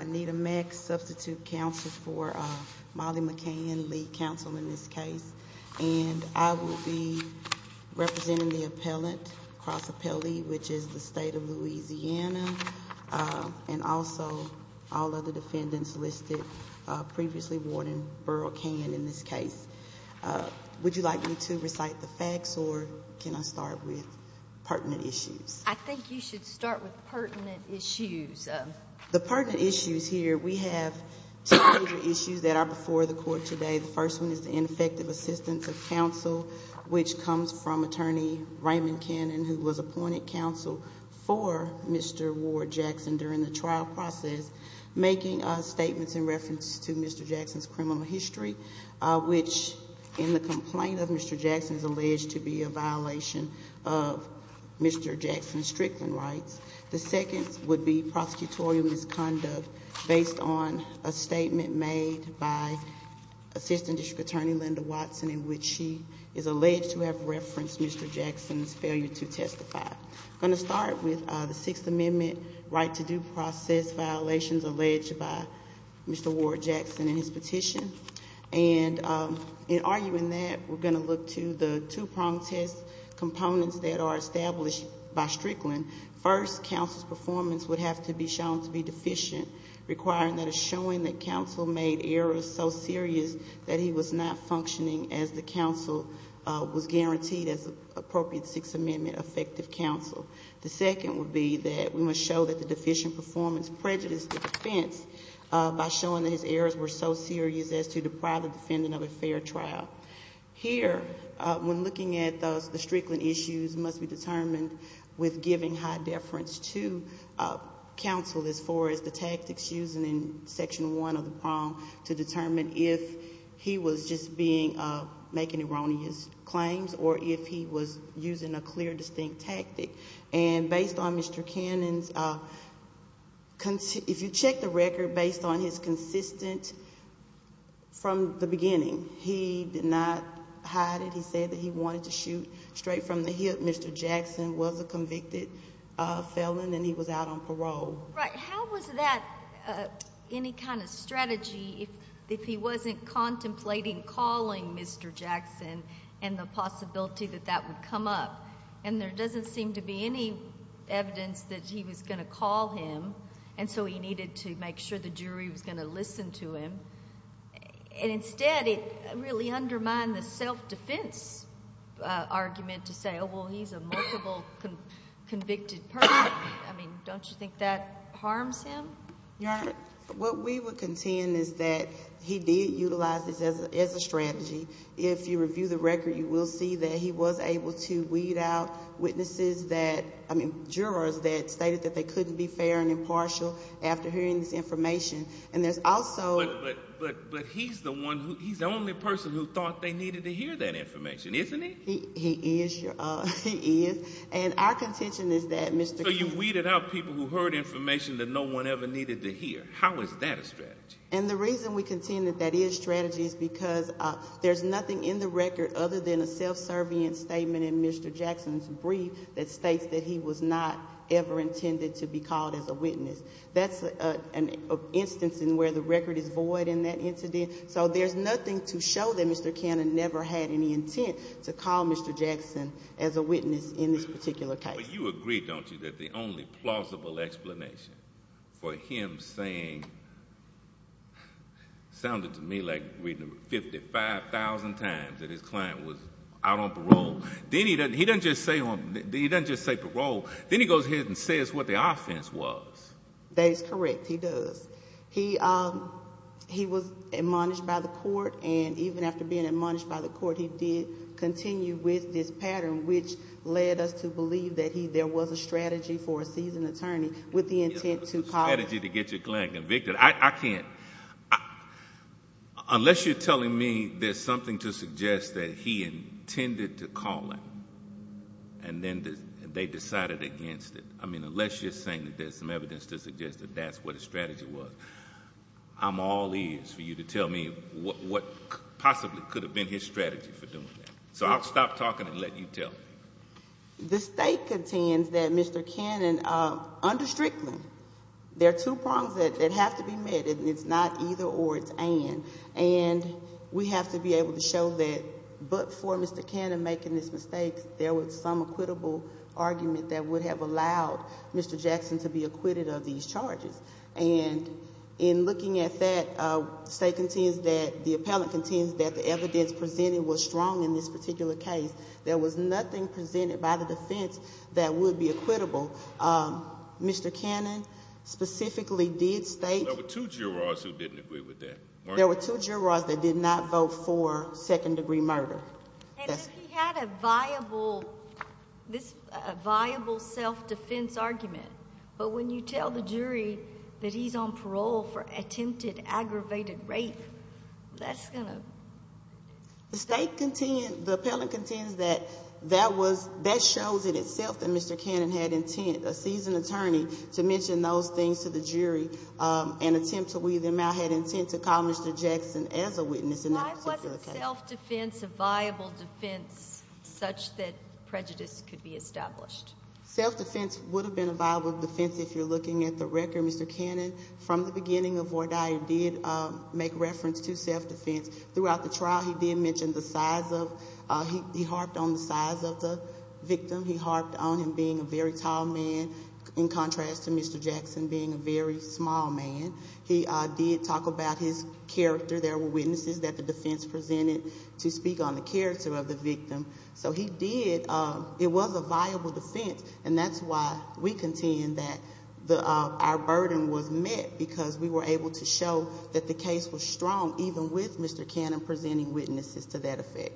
Anita Mack, Substitute Council for Molly McCann, Lead Council in this case, and I will be representing the appellant, Cross Appellee, which is the State of Louisiana, and also all other defendants listed, previously Warden Burl Cannon in this case. Would you like me to recite the facts or can I start with pertinent issues? I think you should start with pertinent issues. The pertinent issues here, we have two major issues that are before the Court today. The first one is the ineffective assistance of counsel, which comes from Attorney Raymond Cannon, who was appointed counsel for Mr. Ward Jackson during the trial process, making statements in reference to Mr. Jackson's criminal history, which in the complaint of Mr. Jackson is alleged to be a violation of Mr. Jackson's Strickland rights. The second would be prosecutorial misconduct based on a statement made by Assistant District Attorney Linda Watson in which she is alleged to have referenced Mr. Jackson's failure to testify. I'm going to start with the Sixth Amendment right to due process violations alleged by Mr. Ward Jackson in his petition, and in arguing that, we're going to look to the two pronged test components that are established by Strickland. First, counsel's performance would have to be shown to be deficient, requiring that a showing that counsel made errors so serious that he was not functioning as the counsel was guaranteed as appropriate Sixth Amendment effective counsel. The second would be that we must show that the deficient performance prejudiced the defense by showing that his errors were so serious as to deprive the defendant of a fair trial. Here, when looking at those, the Strickland issues must be determined with giving high deference to counsel as far as the tactics used in Section 1 of the prong to determine if he was just being, making erroneous claims or if he was using a clear, distinct tactic. And based on Mr. Cannon's, if you check the record based on his consistent, from the beginning, he did not hide it, he said that he wanted to shoot straight from the hip, Mr. Jackson was a convicted felon and he was out on parole. Right. How was that any kind of strategy if he wasn't contemplating calling Mr. Jackson and the possibility that that would come up? And there doesn't seem to be any evidence that he was going to call him and so he needed to make sure the jury was going to listen to him. And instead, it really undermined the self-defense argument to say, oh, well, he's a multiple convicted person. I mean, don't you think that harms him? Your Honor, what we would contend is that he did utilize this as a strategy. If you review the record, you will see that he was able to weed out witnesses that, I mean, jurors that stated that they couldn't be fair and impartial after hearing this information. And there's also... But he's the one who, he's the only person who thought they needed to hear that information, isn't he? He is, Your Honor. He is. And our contention is that Mr. Jackson... So you weeded out people who heard information that no one ever needed to hear. How is that a strategy? And the reason we contend that that is a strategy is because there's nothing in the record other than a self-serving statement in Mr. Jackson's brief that states that he was not ever intended to be called as a witness. That's an instance in where the record is void in that incident. So there's nothing to show that Mr. Cannon never had any intent to call Mr. Jackson as a witness in this particular case. But you agree, don't you, that the only plausible explanation for him saying... Sounded to me like reading it 55,000 times that his client was out on parole. Then he doesn't... He doesn't just say parole. Then he goes ahead and says what the offense was. That is correct. He does. He was admonished by the court, and even after being admonished by the court, he did continue with this pattern, which led us to believe that there was a strategy for a seasoned attorney with the intent to call... There's no strategy to get your client convicted. I can't... Unless you're telling me there's something to suggest that he intended to call him, and then they decided against it. I mean, unless you're saying that there's some evidence to suggest that that's what his strategy was, I'm all ears for you to tell me what possibly could have been his strategy for doing that. So I'll stop talking and let you tell me. The state contends that Mr. Cannon, under Strickland, there are two prongs that have to be met, and it's not either or, it's and. And we have to be able to show that but for Mr. Cannon making this mistake, there was some equitable argument that would have allowed Mr. Jackson to be acquitted of these charges. And in looking at that, the state contends that the appellant contends that the evidence presented was strong in this particular case. There was nothing presented by the defense that would be equitable. Mr. Cannon specifically did state... There were two jurors who didn't agree with that, weren't there? There were two jurors that did not vote for second degree murder. And if he had a viable self-defense argument, but when you tell the jury that he's on parole for attempted aggravated rape, that's going to... The state contends, the appellant contends that that shows in itself that Mr. Cannon had intent, a seasoned attorney, to mention those things to the jury and attempt to weave them out, had intent to call Mr. Jackson as a witness in that particular case. Was self-defense a viable defense such that prejudice could be established? Self-defense would have been a viable defense if you're looking at the record. Mr. Cannon, from the beginning of Vordaia, did make reference to self-defense. Throughout the trial, he did mention the size of... He harped on the size of the victim. He harped on him being a very tall man in contrast to Mr. Jackson being a very small man. He did talk about his character. There were witnesses that the defense presented to speak on the character of the victim. So he did... It was a viable defense. And that's why we contend that our burden was met because we were able to show that the case was strong even with Mr. Cannon presenting witnesses to that effect.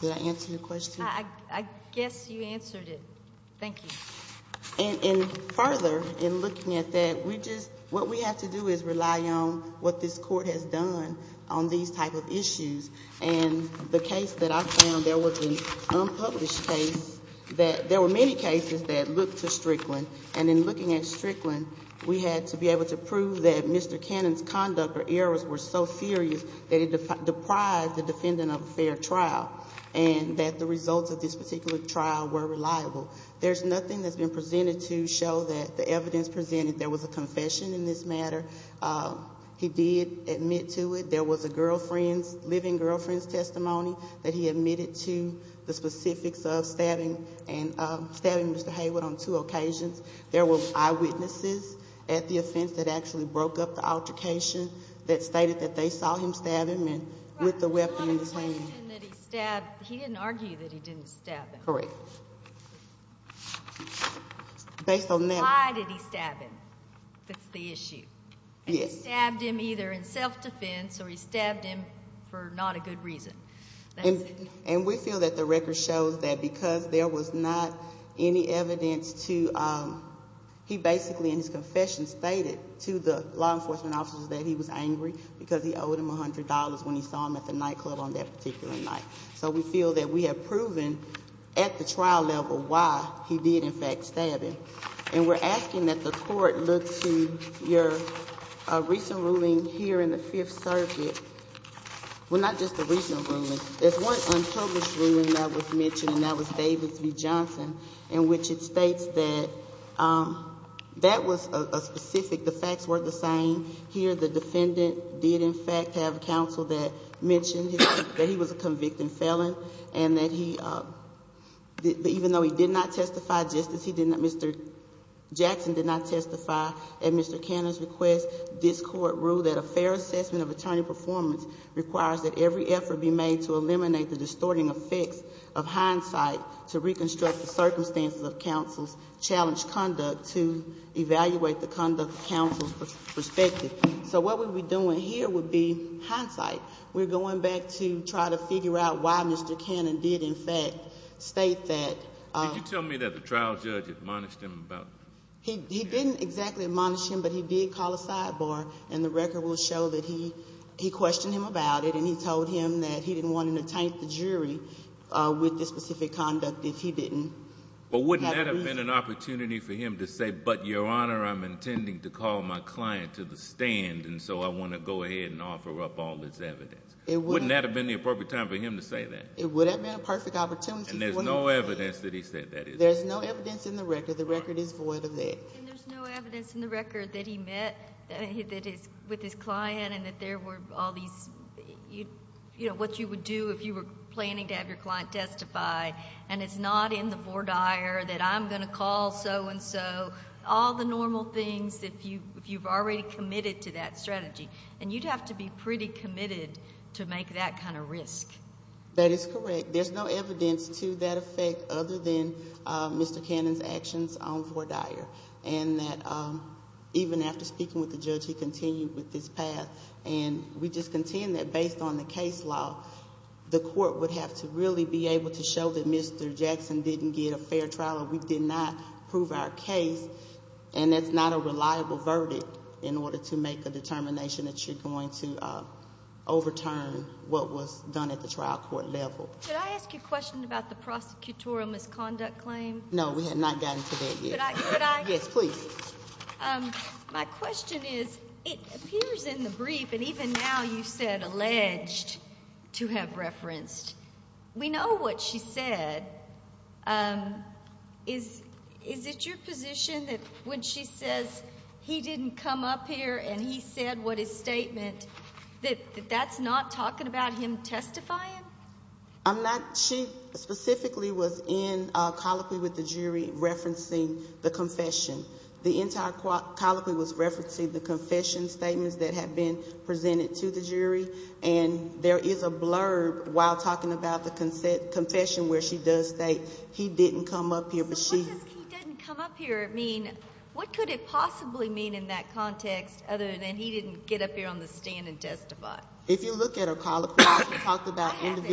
Did I answer your question? I guess you answered it. Thank you. And further, in looking at that, we just... What we have to do is rely on what this Court has done on these type of issues. And the case that I found, there was an unpublished case that... There were many cases that looked to Strickland. And in looking at Strickland, we had to be able to prove that Mr. Cannon's conduct or errors were so serious that it deprived the defendant of a fair trial and that the results of this particular trial were reliable. There's nothing that's been presented to show that the evidence presented... There was a confession in this matter. He did admit to it. There was a girlfriend's, living girlfriend's testimony that he admitted to the specifics of stabbing Mr. Haywood on two occasions. There were eyewitnesses at the offense that actually broke up the altercation that stated that they saw him stab him with the weapon in his hand. The question that he stabbed... He didn't argue that he didn't stab him. Correct. Based on that... Why did he stab him? That's the issue. Yes. And he stabbed him either in self-defense or he stabbed him for not a good reason. And we feel that the record shows that because there was not any evidence to... He basically, in his confession, stated to the law enforcement officers that he was angry because he owed him $100 when he saw him at the nightclub on that particular night. So we feel that we have proven, at the trial level, why he did, in fact, stab him. And we're asking that the Court look to your recent ruling here in the Fifth Circuit... Well, not just the recent ruling. There's one unpublished ruling that was mentioned, and that was Davis v. Johnson, in which it states that that was a specific... The facts were the same. Here, the defendant did, in fact, have counsel that mentioned that he was a convicted felon, and that he... Even though he did not testify, just as he did not... Mr. Jackson did not testify at Mr. Cannon's request, this Court ruled that a fair assessment of attorney performance requires that every effort be made to eliminate the distorting effects of hindsight to reconstruct the circumstances of counsel's challenged conduct to evaluate the conduct of counsel's perspective. So what we'd be doing here would be hindsight. We're going back to try to figure out why Mr. Cannon did, in fact, state that... Did you tell me that the trial judge admonished him about... He didn't exactly admonish him, but he did call a sidebar, and the record will show that he questioned him about it, and he told him that he didn't want to entice the jury with this specific conduct if he didn't have reason... But wouldn't that have been an opportunity for him to say, but, Your Honor, I'm intending to call my client to the stand, and so I want to go ahead and offer up all this evidence? Wouldn't that have been the appropriate time for him to say that? It would have been a perfect opportunity for him to say that. And there's no evidence that he said that, is there? There's no evidence in the record. The record is void of that. And there's no evidence in the record that he met with his client and that there were all these... You know, what you would do if you were planning to have your client testify, and it's not in the voir dire that I'm going to call so-and-so, all the normal things, if you've already committed to that strategy. And you'd have to be pretty committed to make that kind of risk. That is correct. There's no evidence to that effect other than Mr. Cannon's actions on voir dire, and that even after speaking with the judge, he continued with this path, and we just contend that based on the case law, the court would have to really be able to show that Mr. Jackson didn't get a fair trial or we did not prove our case, and that's not a reliable verdict in order to make a determination that you're going to overturn what was done at the trial court level. Could I ask you a question about the prosecutorial misconduct claim? No, we have not gotten to that yet. Could I? Yes, please. My question is, it appears in the brief, and even now you said alleged to have referenced. We know what she said. Is it your position that when she says he didn't come up here and he said what his statement, that that's not talking about him testifying? I'm not. She specifically was in colloquy with the jury referencing the confession. The entire colloquy was referencing the confession statements that had been presented to the jury, and there is a blurb while talking about the confession where she does state he didn't come up here. So what does he didn't come up here mean? What could it possibly mean in that context other than he didn't get up here on the stand and testify? If you look at her colloquy, she talked about individual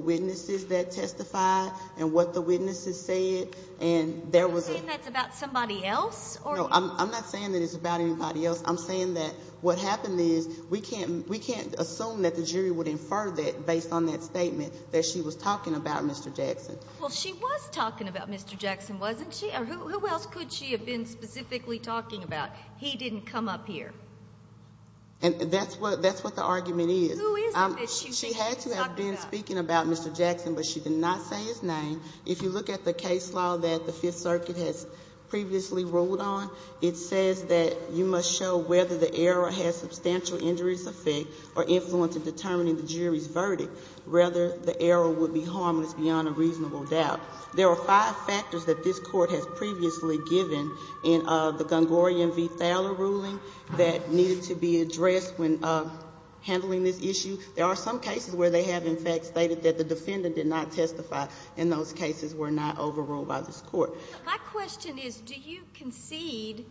witnesses that testified and what the witnesses said. You're saying that's about somebody else? No, I'm not saying that it's about anybody else. I'm saying that what happened is we can't assume that the jury would infer that based on that statement that she was talking about Mr. Jackson. Well, she was talking about Mr. Jackson, wasn't she? Who else could she have been specifically talking about? He didn't come up here. And that's what the argument is. Who is it that she was talking about? She had to have been speaking about Mr. Jackson, but she did not say his name. If you look at the case law that the Fifth Circuit has previously ruled on, it says that you must show whether the error has substantial injuries effect or influence in determining the jury's verdict. Rather, the error would be harmless beyond a reasonable doubt. There are five factors that this Court has previously given in the Gungorian v. Thaler ruling that needed to be addressed when handling this issue. There are some cases where they have, in fact, stated that the defendant did not testify, and those cases were not overruled by this Court. My question is, do you concede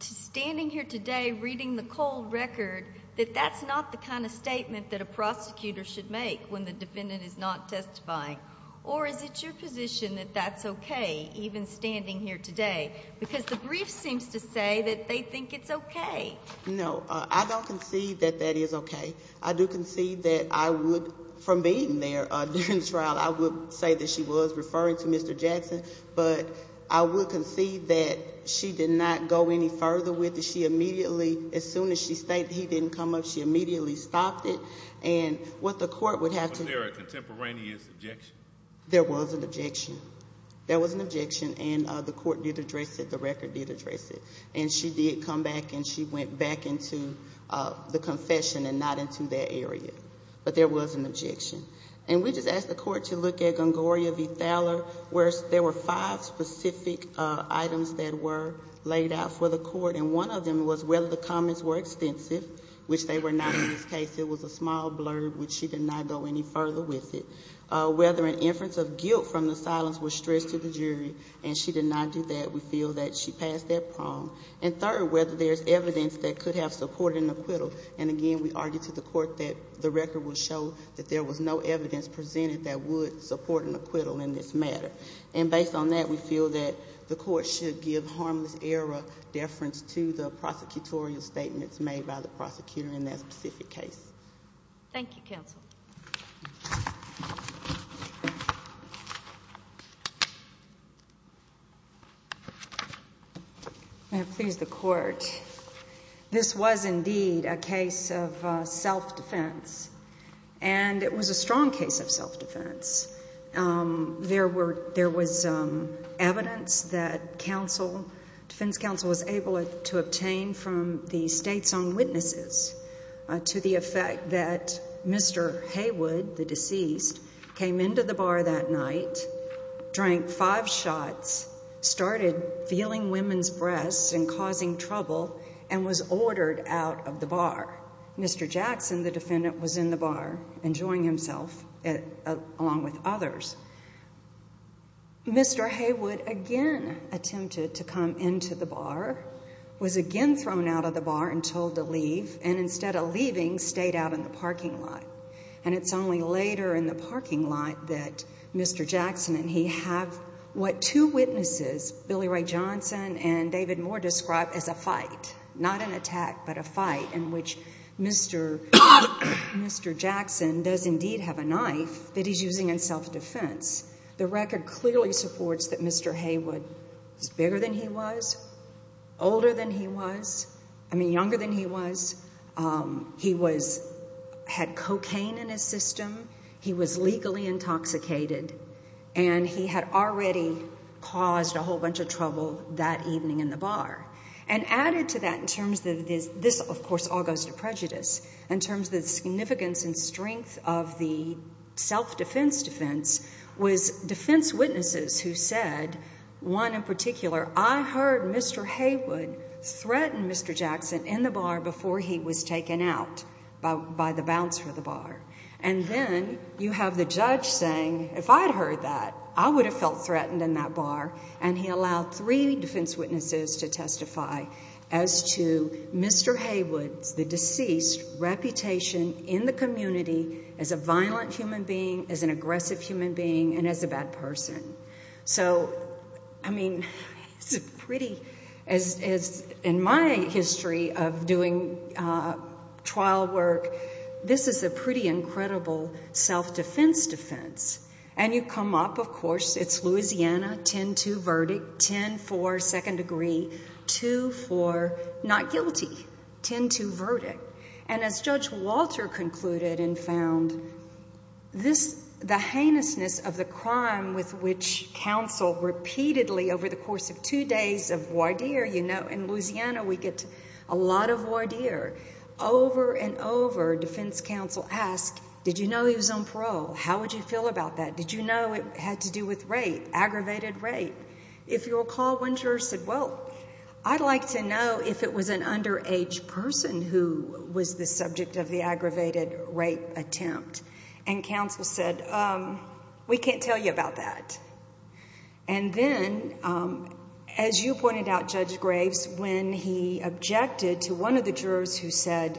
to standing here today reading the cold record that that's not the kind of statement that a prosecutor should make when the defendant is not testifying? Or is it your position that that's okay, even standing here today? Because the brief seems to say that they think it's okay. No, I don't concede that that is okay. I do concede that I would, from being there during the trial, I would say that she was referring to Mr. Jackson, but I would concede that she did not go any further with it. She immediately, as soon as she stated he didn't come up, she immediately stopped it. And what the Court would have to do. Was there a contemporaneous objection? There was an objection. There was an objection, and the Court did address it, the record did address it. And she did come back and she went back into the confession and not into that area. But there was an objection. And we just asked the Court to look at Gongoria v. Thaler, where there were five specific items that were laid out for the Court, and one of them was whether the comments were extensive, which they were not in this case. It was a small blurb, which she did not go any further with it. Whether an inference of guilt from the silence was stretched to the jury, and she did not do that, we feel that she passed that prong. And third, whether there's evidence that could have supported an acquittal. And again, we argued to the Court that the record would show that there was no evidence presented that would support an acquittal in this matter. And based on that, we feel that the Court should give harmless error deference to the prosecutorial statements made by the prosecutor in that specific case. Thank you, Counsel. May it please the Court. This was indeed a case of self-defense, and it was a strong case of self-defense. There was evidence that defense counsel was able to obtain from the state's own witnesses to the effect that Mr. Haywood, the deceased, came into the bar that night, drank five shots, started feeling women's breasts and causing trouble, and was ordered out of the bar. Mr. Jackson, the defendant, was in the bar enjoying himself along with others. Mr. Haywood again attempted to come into the bar, was again thrown out of the bar and told to leave, and instead of leaving, stayed out in the parking lot. And it's only later in the parking lot that Mr. Jackson and he have what two witnesses, Billy Ray Johnson and David Moore, describe as a fight, not an attack, but a fight in which Mr. Jackson does indeed have a knife that he's using in self-defense. The record clearly supports that Mr. Haywood was bigger than he was, older than he was, I mean younger than he was. He had cocaine in his system. He was legally intoxicated, and he had already caused a whole bunch of trouble that evening in the bar. And added to that in terms of this, of course, all goes to prejudice, in terms of the significance and strength of the self-defense defense, was defense witnesses who said, one in particular, I heard Mr. Haywood threaten Mr. Jackson in the bar before he was taken out by the bouncer of the bar. And then you have the judge saying, if I had heard that, I would have felt threatened in that bar, and he allowed three defense witnesses to testify as to Mr. Haywood's, the deceased's reputation in the community as a violent human being, as an aggressive human being, and as a bad person. So, I mean, it's pretty, in my history of doing trial work, this is a pretty incredible self-defense defense. And you come up, of course, it's Louisiana, 10-2 verdict, 10-4 second degree, 2-4 not guilty, 10-2 verdict. And as Judge Walter concluded and found, the heinousness of the crime with which counsel repeatedly, over the course of two days of voir dire, you know, in Louisiana we get a lot of voir dire, over and over defense counsel asked, did you know he was on parole? How would you feel about that? Did you know it had to do with rape, aggravated rape? If you'll recall, one juror said, well, I'd like to know if it was an underage person who was the subject of the aggravated rape attempt. And counsel said, we can't tell you about that. And then, as you pointed out, Judge Graves, when he objected to one of the jurors who said,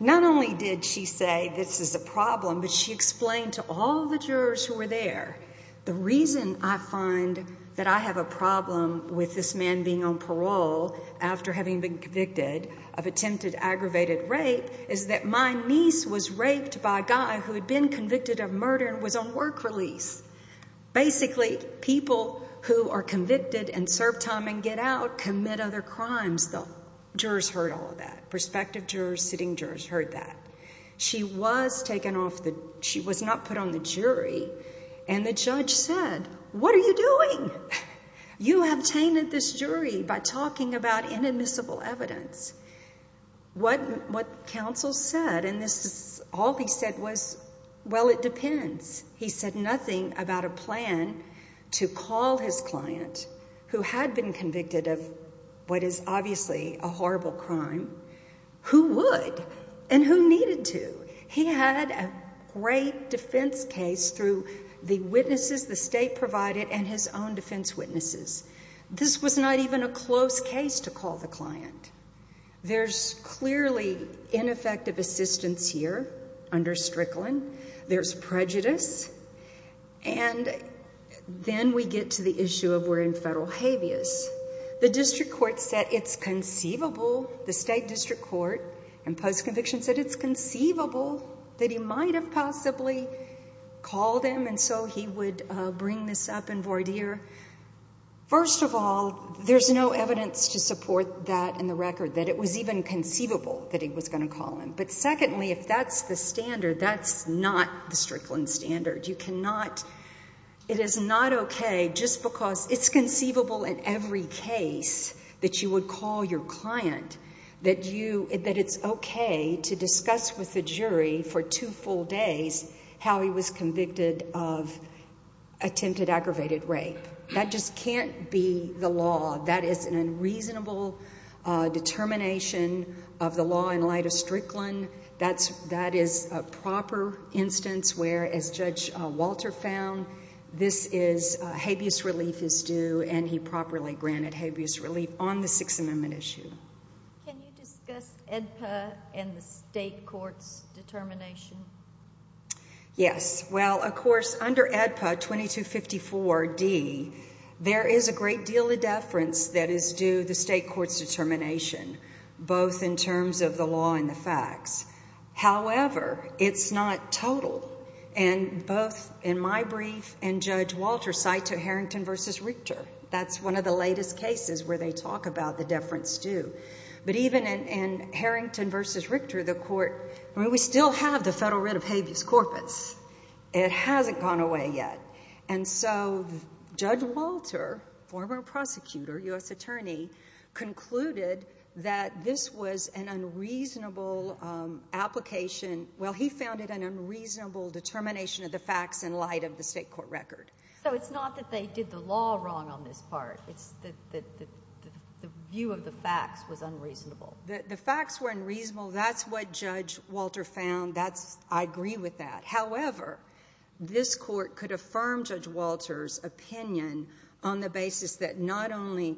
not only did she say this is a problem, but she explained to all the jurors who were there, the reason I find that I have a problem with this man being on parole after having been convicted of attempted aggravated rape is that my niece was raped by a guy who had been convicted of murder and was on work release. Basically, people who are convicted and serve time and get out commit other crimes. The jurors heard all of that. Prospective jurors, sitting jurors heard that. She was not put on the jury, and the judge said, what are you doing? You have tainted this jury by talking about inadmissible evidence. What counsel said, and all he said was, well, it depends. He said nothing about a plan to call his client, who had been convicted of what is obviously a horrible crime, who would and who needed to. He had a great defense case through the witnesses the state provided and his own defense witnesses. This was not even a close case to call the client. There's clearly ineffective assistance here under Strickland. There's prejudice, and then we get to the issue of where in federal habeas. The district court said it's conceivable. The state district court in post-conviction said it's conceivable that he might have possibly called him, and so he would bring this up in voir dire. First of all, there's no evidence to support that in the record, that it was even conceivable that he was going to call him. But secondly, if that's the standard, that's not the Strickland standard. You cannot, it is not okay just because it's conceivable in every case that you would call your client that you, that it's okay to discuss with the jury for two full days how he was convicted of attempted aggravated rape. That just can't be the law. That is an unreasonable determination of the law in light of Strickland. That is a proper instance where, as Judge Walter found, this is habeas relief is due, and he properly granted habeas relief on the Sixth Amendment issue. Can you discuss AEDPA and the state court's determination? Yes. Well, of course, under AEDPA 2254D, there is a great deal of deference that is due the state court's determination, both in terms of the law and the facts. However, it's not total, and both in my brief and Judge Walter's cite Harrington v. Richter. That's one of the latest cases where they talk about the deference due. But even in Harrington v. Richter, the court, I mean, we still have the federal writ of habeas corpus. It hasn't gone away yet. And so Judge Walter, former prosecutor, U.S. attorney, concluded that this was an unreasonable application. Well, he found it an unreasonable determination of the facts in light of the state court record. So it's not that they did the law wrong on this part. It's that the view of the facts was unreasonable. The facts were unreasonable. That's what Judge Walter found. I agree with that. However, this court could affirm Judge Walter's opinion on the basis that not only,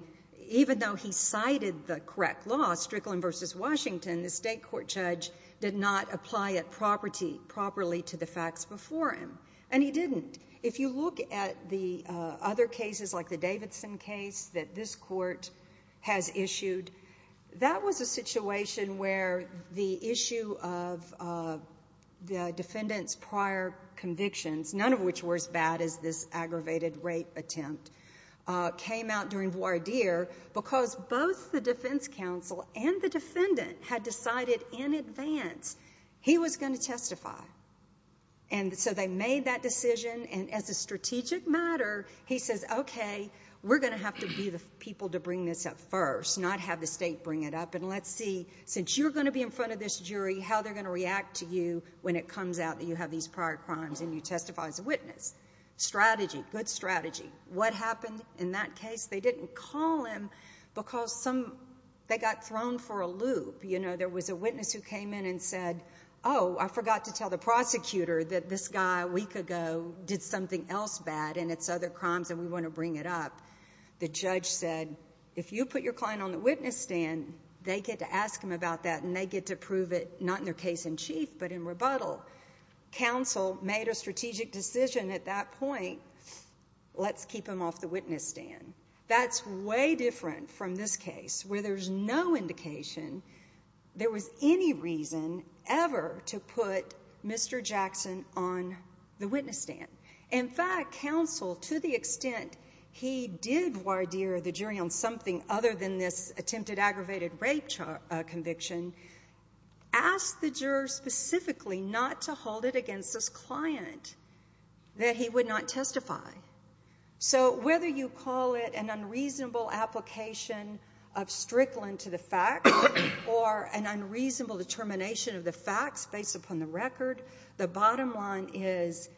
even though he cited the correct law, Strickland v. Washington, the state court judge did not apply it properly to the facts before him, and he didn't. If you look at the other cases, like the Davidson case that this court has issued, that was a situation where the issue of the defendant's prior convictions, none of which were as bad as this aggravated rape attempt, came out during voir dire because both the defense counsel and the defendant had decided in advance he was going to testify. So they made that decision, and as a strategic matter, he says, okay, we're going to have to be the people to bring this up first, not have the state bring it up, and let's see, since you're going to be in front of this jury, how they're going to react to you when it comes out that you have these prior crimes and you testify as a witness. Strategy, good strategy. What happened in that case? They didn't call him because they got thrown for a loop. There was a witness who came in and said, oh, I forgot to tell the prosecutor that this guy a week ago did something else bad, and it's other crimes, and we want to bring it up. The judge said, if you put your client on the witness stand, they get to ask him about that, and they get to prove it not in their case in chief but in rebuttal. Counsel made a strategic decision at that point, let's keep him off the witness stand. That's way different from this case where there's no indication there was any reason ever to put Mr. Jackson on the witness stand. In fact, counsel, to the extent he did wardeer the jury on something other than this attempted aggravated rape conviction, asked the juror specifically not to hold it against his client that he would not testify. So whether you call it an unreasonable application of strickland to the facts or an unreasonable determination of the facts based upon the record, the bottom line is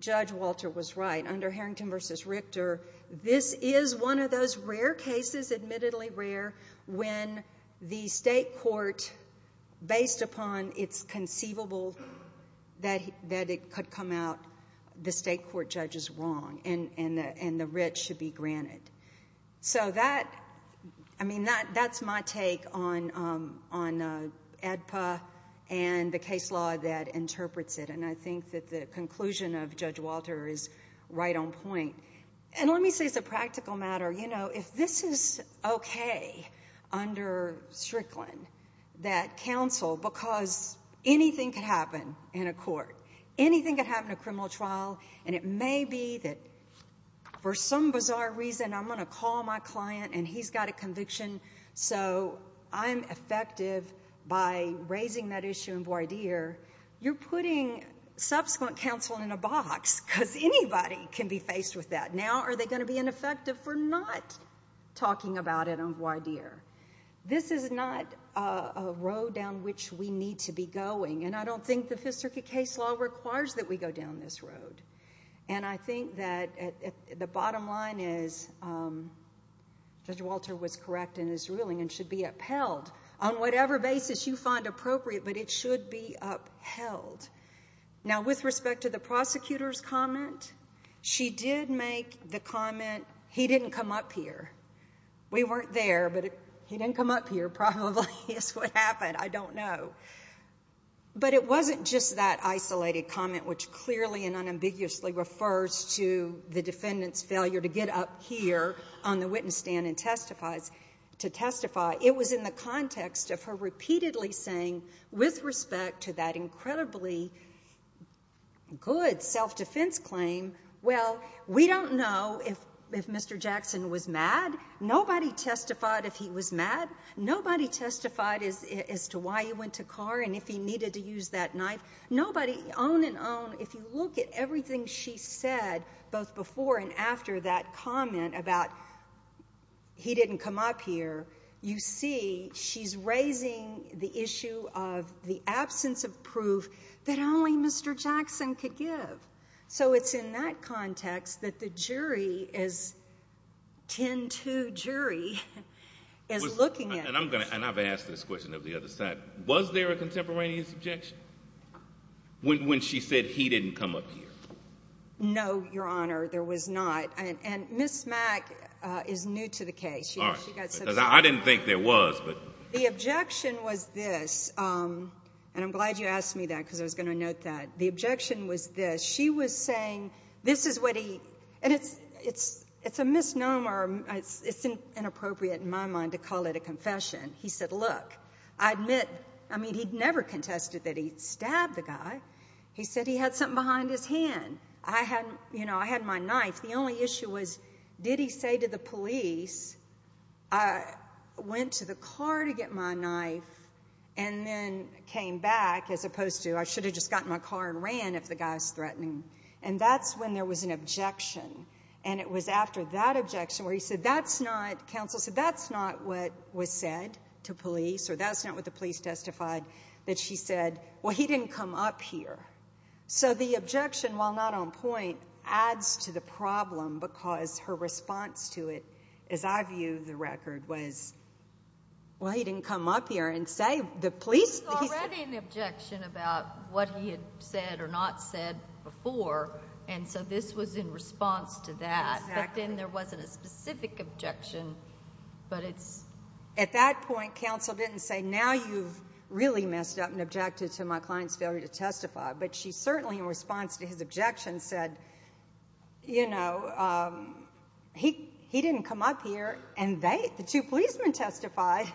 Judge Walter was right. Under Harrington v. Richter, this is one of those rare cases, admittedly rare, when the state court, based upon its conceivable that it could come out, the state court judge is wrong and the writ should be granted. So that's my take on AEDPA and the case law that interprets it, and I think that the conclusion of Judge Walter is right on point. And let me say as a practical matter, if this is okay under strickland, that counsel, because anything could happen in a court, anything could happen in a criminal trial, and it may be that for some bizarre reason I'm going to call my client and he's got a conviction so I'm effective by raising that issue in voir dire, you're putting subsequent counsel in a box because anybody can be faced with that. Now are they going to be ineffective for not talking about it in voir dire? This is not a road down which we need to be going, and I don't think the Fifth Circuit case law requires that we go down this road. And I think that the bottom line is Judge Walter was correct in his ruling and should be upheld on whatever basis you find appropriate, but it should be upheld. Now with respect to the prosecutor's comment, she did make the comment, he didn't come up here. We weren't there, but he didn't come up here probably is what happened. I don't know. But it wasn't just that isolated comment, which clearly and unambiguously refers to the defendant's failure to get up here on the witness stand to testify. It was in the context of her repeatedly saying, with respect to that incredibly good self-defense claim, well, we don't know if Mr. Jackson was mad. Nobody testified if he was mad. Nobody testified as to why he went to car and if he needed to use that knife. Nobody, on and on, if you look at everything she said, both before and after that comment about he didn't come up here, you see she's raising the issue of the absence of proof that only Mr. Jackson could give. So it's in that context that the jury is 10-2 jury is looking at. And I've asked this question of the other side. Was there a contemporaneous objection when she said he didn't come up here? No, Your Honor, there was not. And Ms. Mack is new to the case. I didn't think there was. The objection was this, and I'm glad you asked me that because I was going to note that. The objection was this. She was saying this is what he, and it's a misnomer. It's inappropriate in my mind to call it a confession. He said, look, I admit, I mean, he never contested that he stabbed the guy. He said he had something behind his hand. I had my knife. The only issue was did he say to the police I went to the car to get my knife and then came back as opposed to I should have just got in my car and ran if the guy's threatening. And that's when there was an objection. And it was after that objection where he said that's not, counsel said, that's not what was said to police or that's not what the police testified, that she said, well, he didn't come up here. So the objection, while not on point, adds to the problem because her response to it, as I view the record, was, well, he didn't come up here and say the police. He's already in objection about what he had said or not said before, and so this was in response to that. But then there wasn't a specific objection, but it's. At that point, counsel didn't say now you've really messed up and objected to my client's failure to testify. But she certainly in response to his objection said, you know, he didn't come up here and the two policemen testified.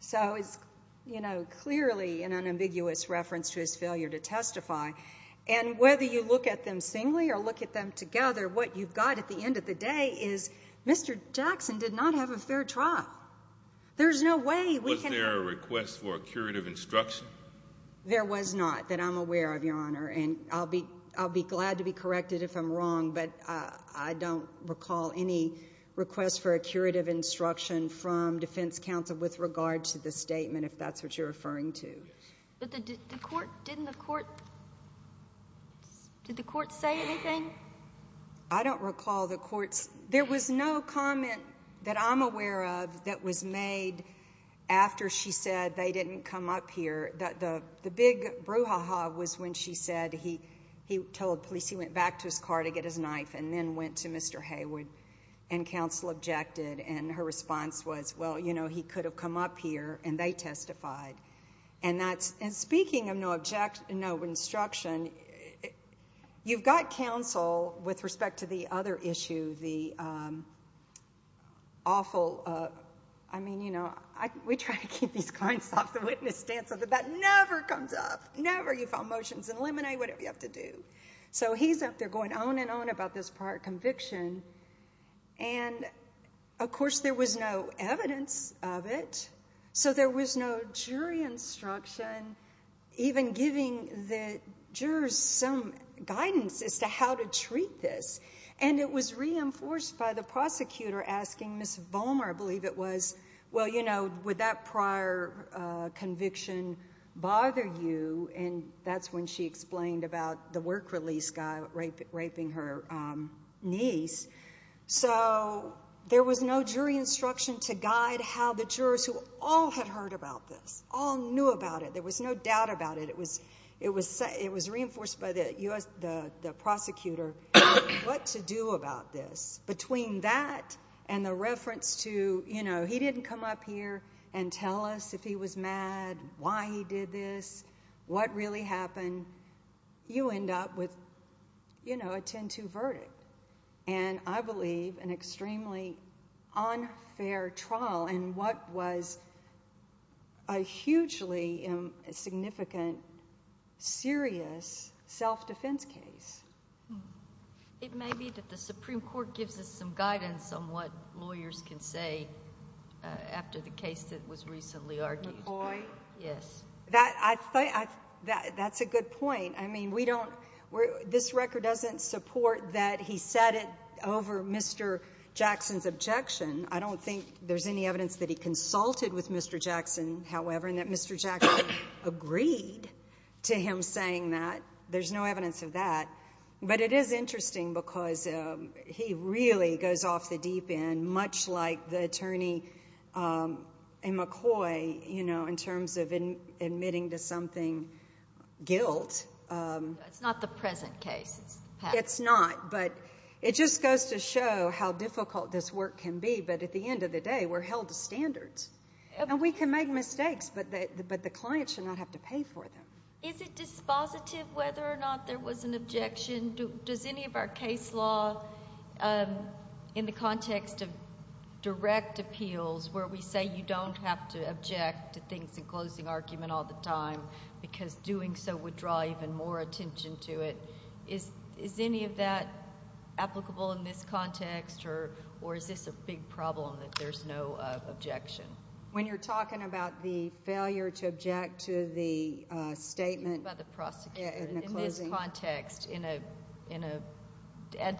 So it's, you know, clearly an unambiguous reference to his failure to testify. And whether you look at them singly or look at them together, what you've got at the end of the day is Mr. Jackson did not have a fair trial. There's no way we can. Was there a request for a curative instruction? There was not that I'm aware of, Your Honor, and I'll be glad to be corrected if I'm wrong, but I don't recall any request for a curative instruction from defense counsel with regard to the statement, if that's what you're referring to. But didn't the court say anything? I don't recall the court's. There was no comment that I'm aware of that was made after she said they didn't come up here. The big brouhaha was when she said he told police he went back to his car to get his knife and then went to Mr. Haywood and counsel objected. And her response was, well, you know, he could have come up here and they testified. And speaking of no instruction, you've got counsel with respect to the other issue, the awful, I mean, you know, we try to keep these clients off the witness stand so that that never comes up, never. You file motions and eliminate whatever you have to do. So he's up there going on and on about this prior conviction. And, of course, there was no evidence of it, so there was no jury instruction, even giving the jurors some guidance as to how to treat this. And it was reinforced by the prosecutor asking Ms. Vollmer, I believe it was, well, you know, would that prior conviction bother you? And that's when she explained about the work release guy raping her niece. So there was no jury instruction to guide how the jurors, who all had heard about this, all knew about it. There was no doubt about it. It was reinforced by the prosecutor what to do about this. Between that and the reference to, you know, he didn't come up here and tell us if he was mad, why he did this, what really happened, you end up with, you know, a 10-2 verdict. And I believe an extremely unfair trial in what was a hugely significant, serious self-defense case. It may be that the Supreme Court gives us some guidance on what lawyers can say after the case that was recently argued. McCoy? Yes. That's a good point. I mean, we don't, this record doesn't support that he said it over Mr. Jackson's objection. I don't think there's any evidence that he consulted with Mr. Jackson, however, and that Mr. Jackson agreed to him saying that. There's no evidence of that. But it is interesting because he really goes off the deep end, much like the attorney in McCoy, you know, in terms of admitting to something guilt. It's not the present case. It's not, but it just goes to show how difficult this work can be. But at the end of the day, we're held to standards. And we can make mistakes, but the clients should not have to pay for them. Is it dispositive whether or not there was an objection? Does any of our case law in the context of direct appeals, where we say you don't have to object to things in closing argument all the time because doing so would draw even more attention to it, is any of that applicable in this context, or is this a big problem that there's no objection? When you're talking about the failure to object to the statement in the closing argument. By the prosecutor. In this context, in a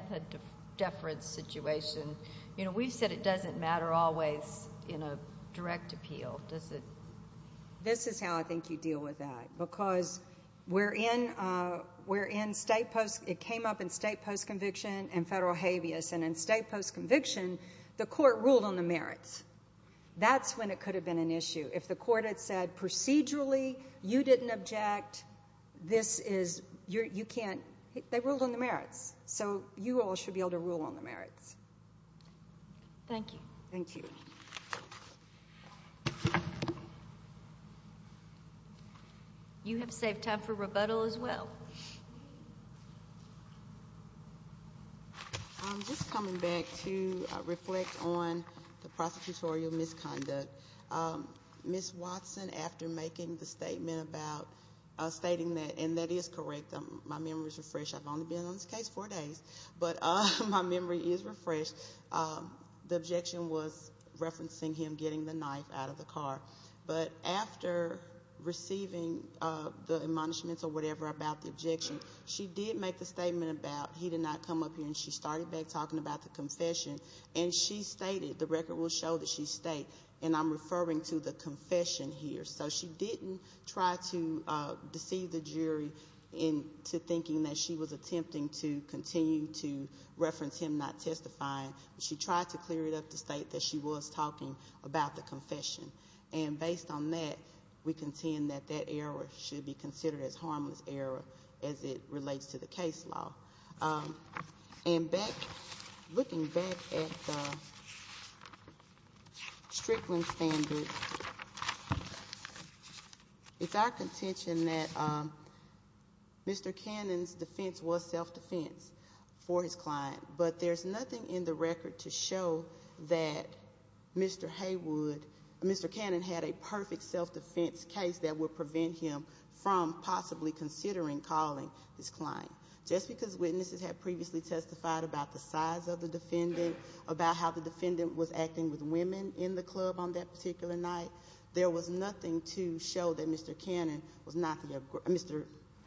deference situation, you know, we've said it doesn't matter always in a direct appeal. Does it? This is how I think you deal with that because we're in state post. It came up in state post conviction and federal habeas. And in state post conviction, the court ruled on the merits. That's when it could have been an issue. If the court had said procedurally, you didn't object, this is, you can't, they ruled on the merits. So you all should be able to rule on the merits. Thank you. Thank you. You have saved time for rebuttal as well. I'm just coming back to reflect on the prosecutorial misconduct. Ms. Watson, after making the statement about stating that, and that is correct, my memory is refreshed. I've only been on this case four days. But my memory is refreshed. The objection was referencing him getting the knife out of the car. But after receiving the admonishments or whatever about the objection, she did make the statement about he did not come up here and she started back talking about the confession. And she stated, the record will show that she stayed, and I'm referring to the confession here. So she didn't try to deceive the jury into thinking that she was attempting to continue to reference him not testifying. She tried to clear it up to state that she was talking about the confession. And based on that, we contend that that error should be considered as harmless error as it relates to the case law. And looking back at the Strickland standard, it's our contention that Mr. Cannon's defense was self-defense for his client. But there's nothing in the record to show that Mr. Haywood, Mr. Cannon had a perfect self-defense case that would prevent him from possibly considering calling his client. Just because witnesses had previously testified about the size of the defendant, about how the defendant was acting with women in the club on that particular night, there was nothing to show that Mr.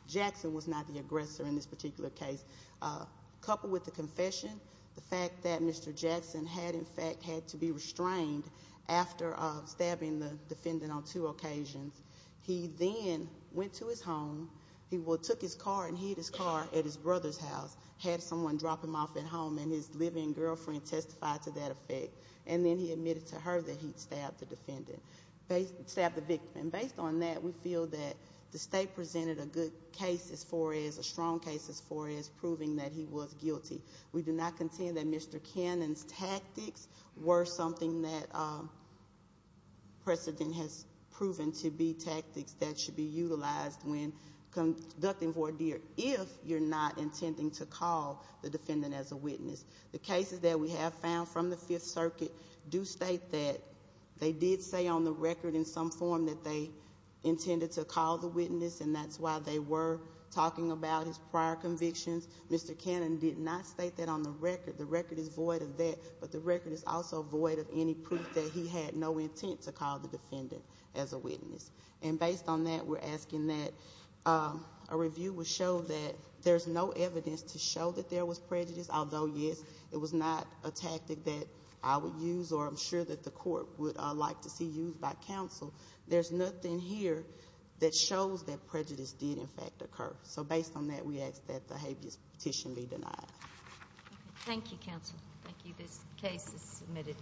Jackson was not the aggressor in this particular case. Coupled with the confession, the fact that Mr. Jackson had, in fact, had to be restrained after stabbing the defendant on two occasions. He then went to his home, he took his car and hid his car at his brother's house, had someone drop him off at home, and his living girlfriend testified to that effect. And then he admitted to her that he'd stabbed the victim. And based on that, we feel that the state presented a good case as far as a strong case as far as proving that he was guilty. We do not contend that Mr. Cannon's tactics were something that precedent has proven to be tactics that should be utilized when conducting voir dire if you're not intending to call the defendant as a witness. The cases that we have found from the Fifth Circuit do state that they did say on the record in some form that they intended to call the witness, and that's why they were talking about his prior convictions. Mr. Cannon did not state that on the record. The record is void of that, but the record is also void of any proof that he had no intent to call the defendant as a witness. And based on that, we're asking that a review would show that there's no evidence to show that there was prejudice, although, yes, it was not a tactic that I would use or I'm sure that the court would like to see used by counsel. There's nothing here that shows that prejudice did, in fact, occur. So based on that, we ask that the habeas petition be denied. Thank you, counsel. Thank you. This case is submitted.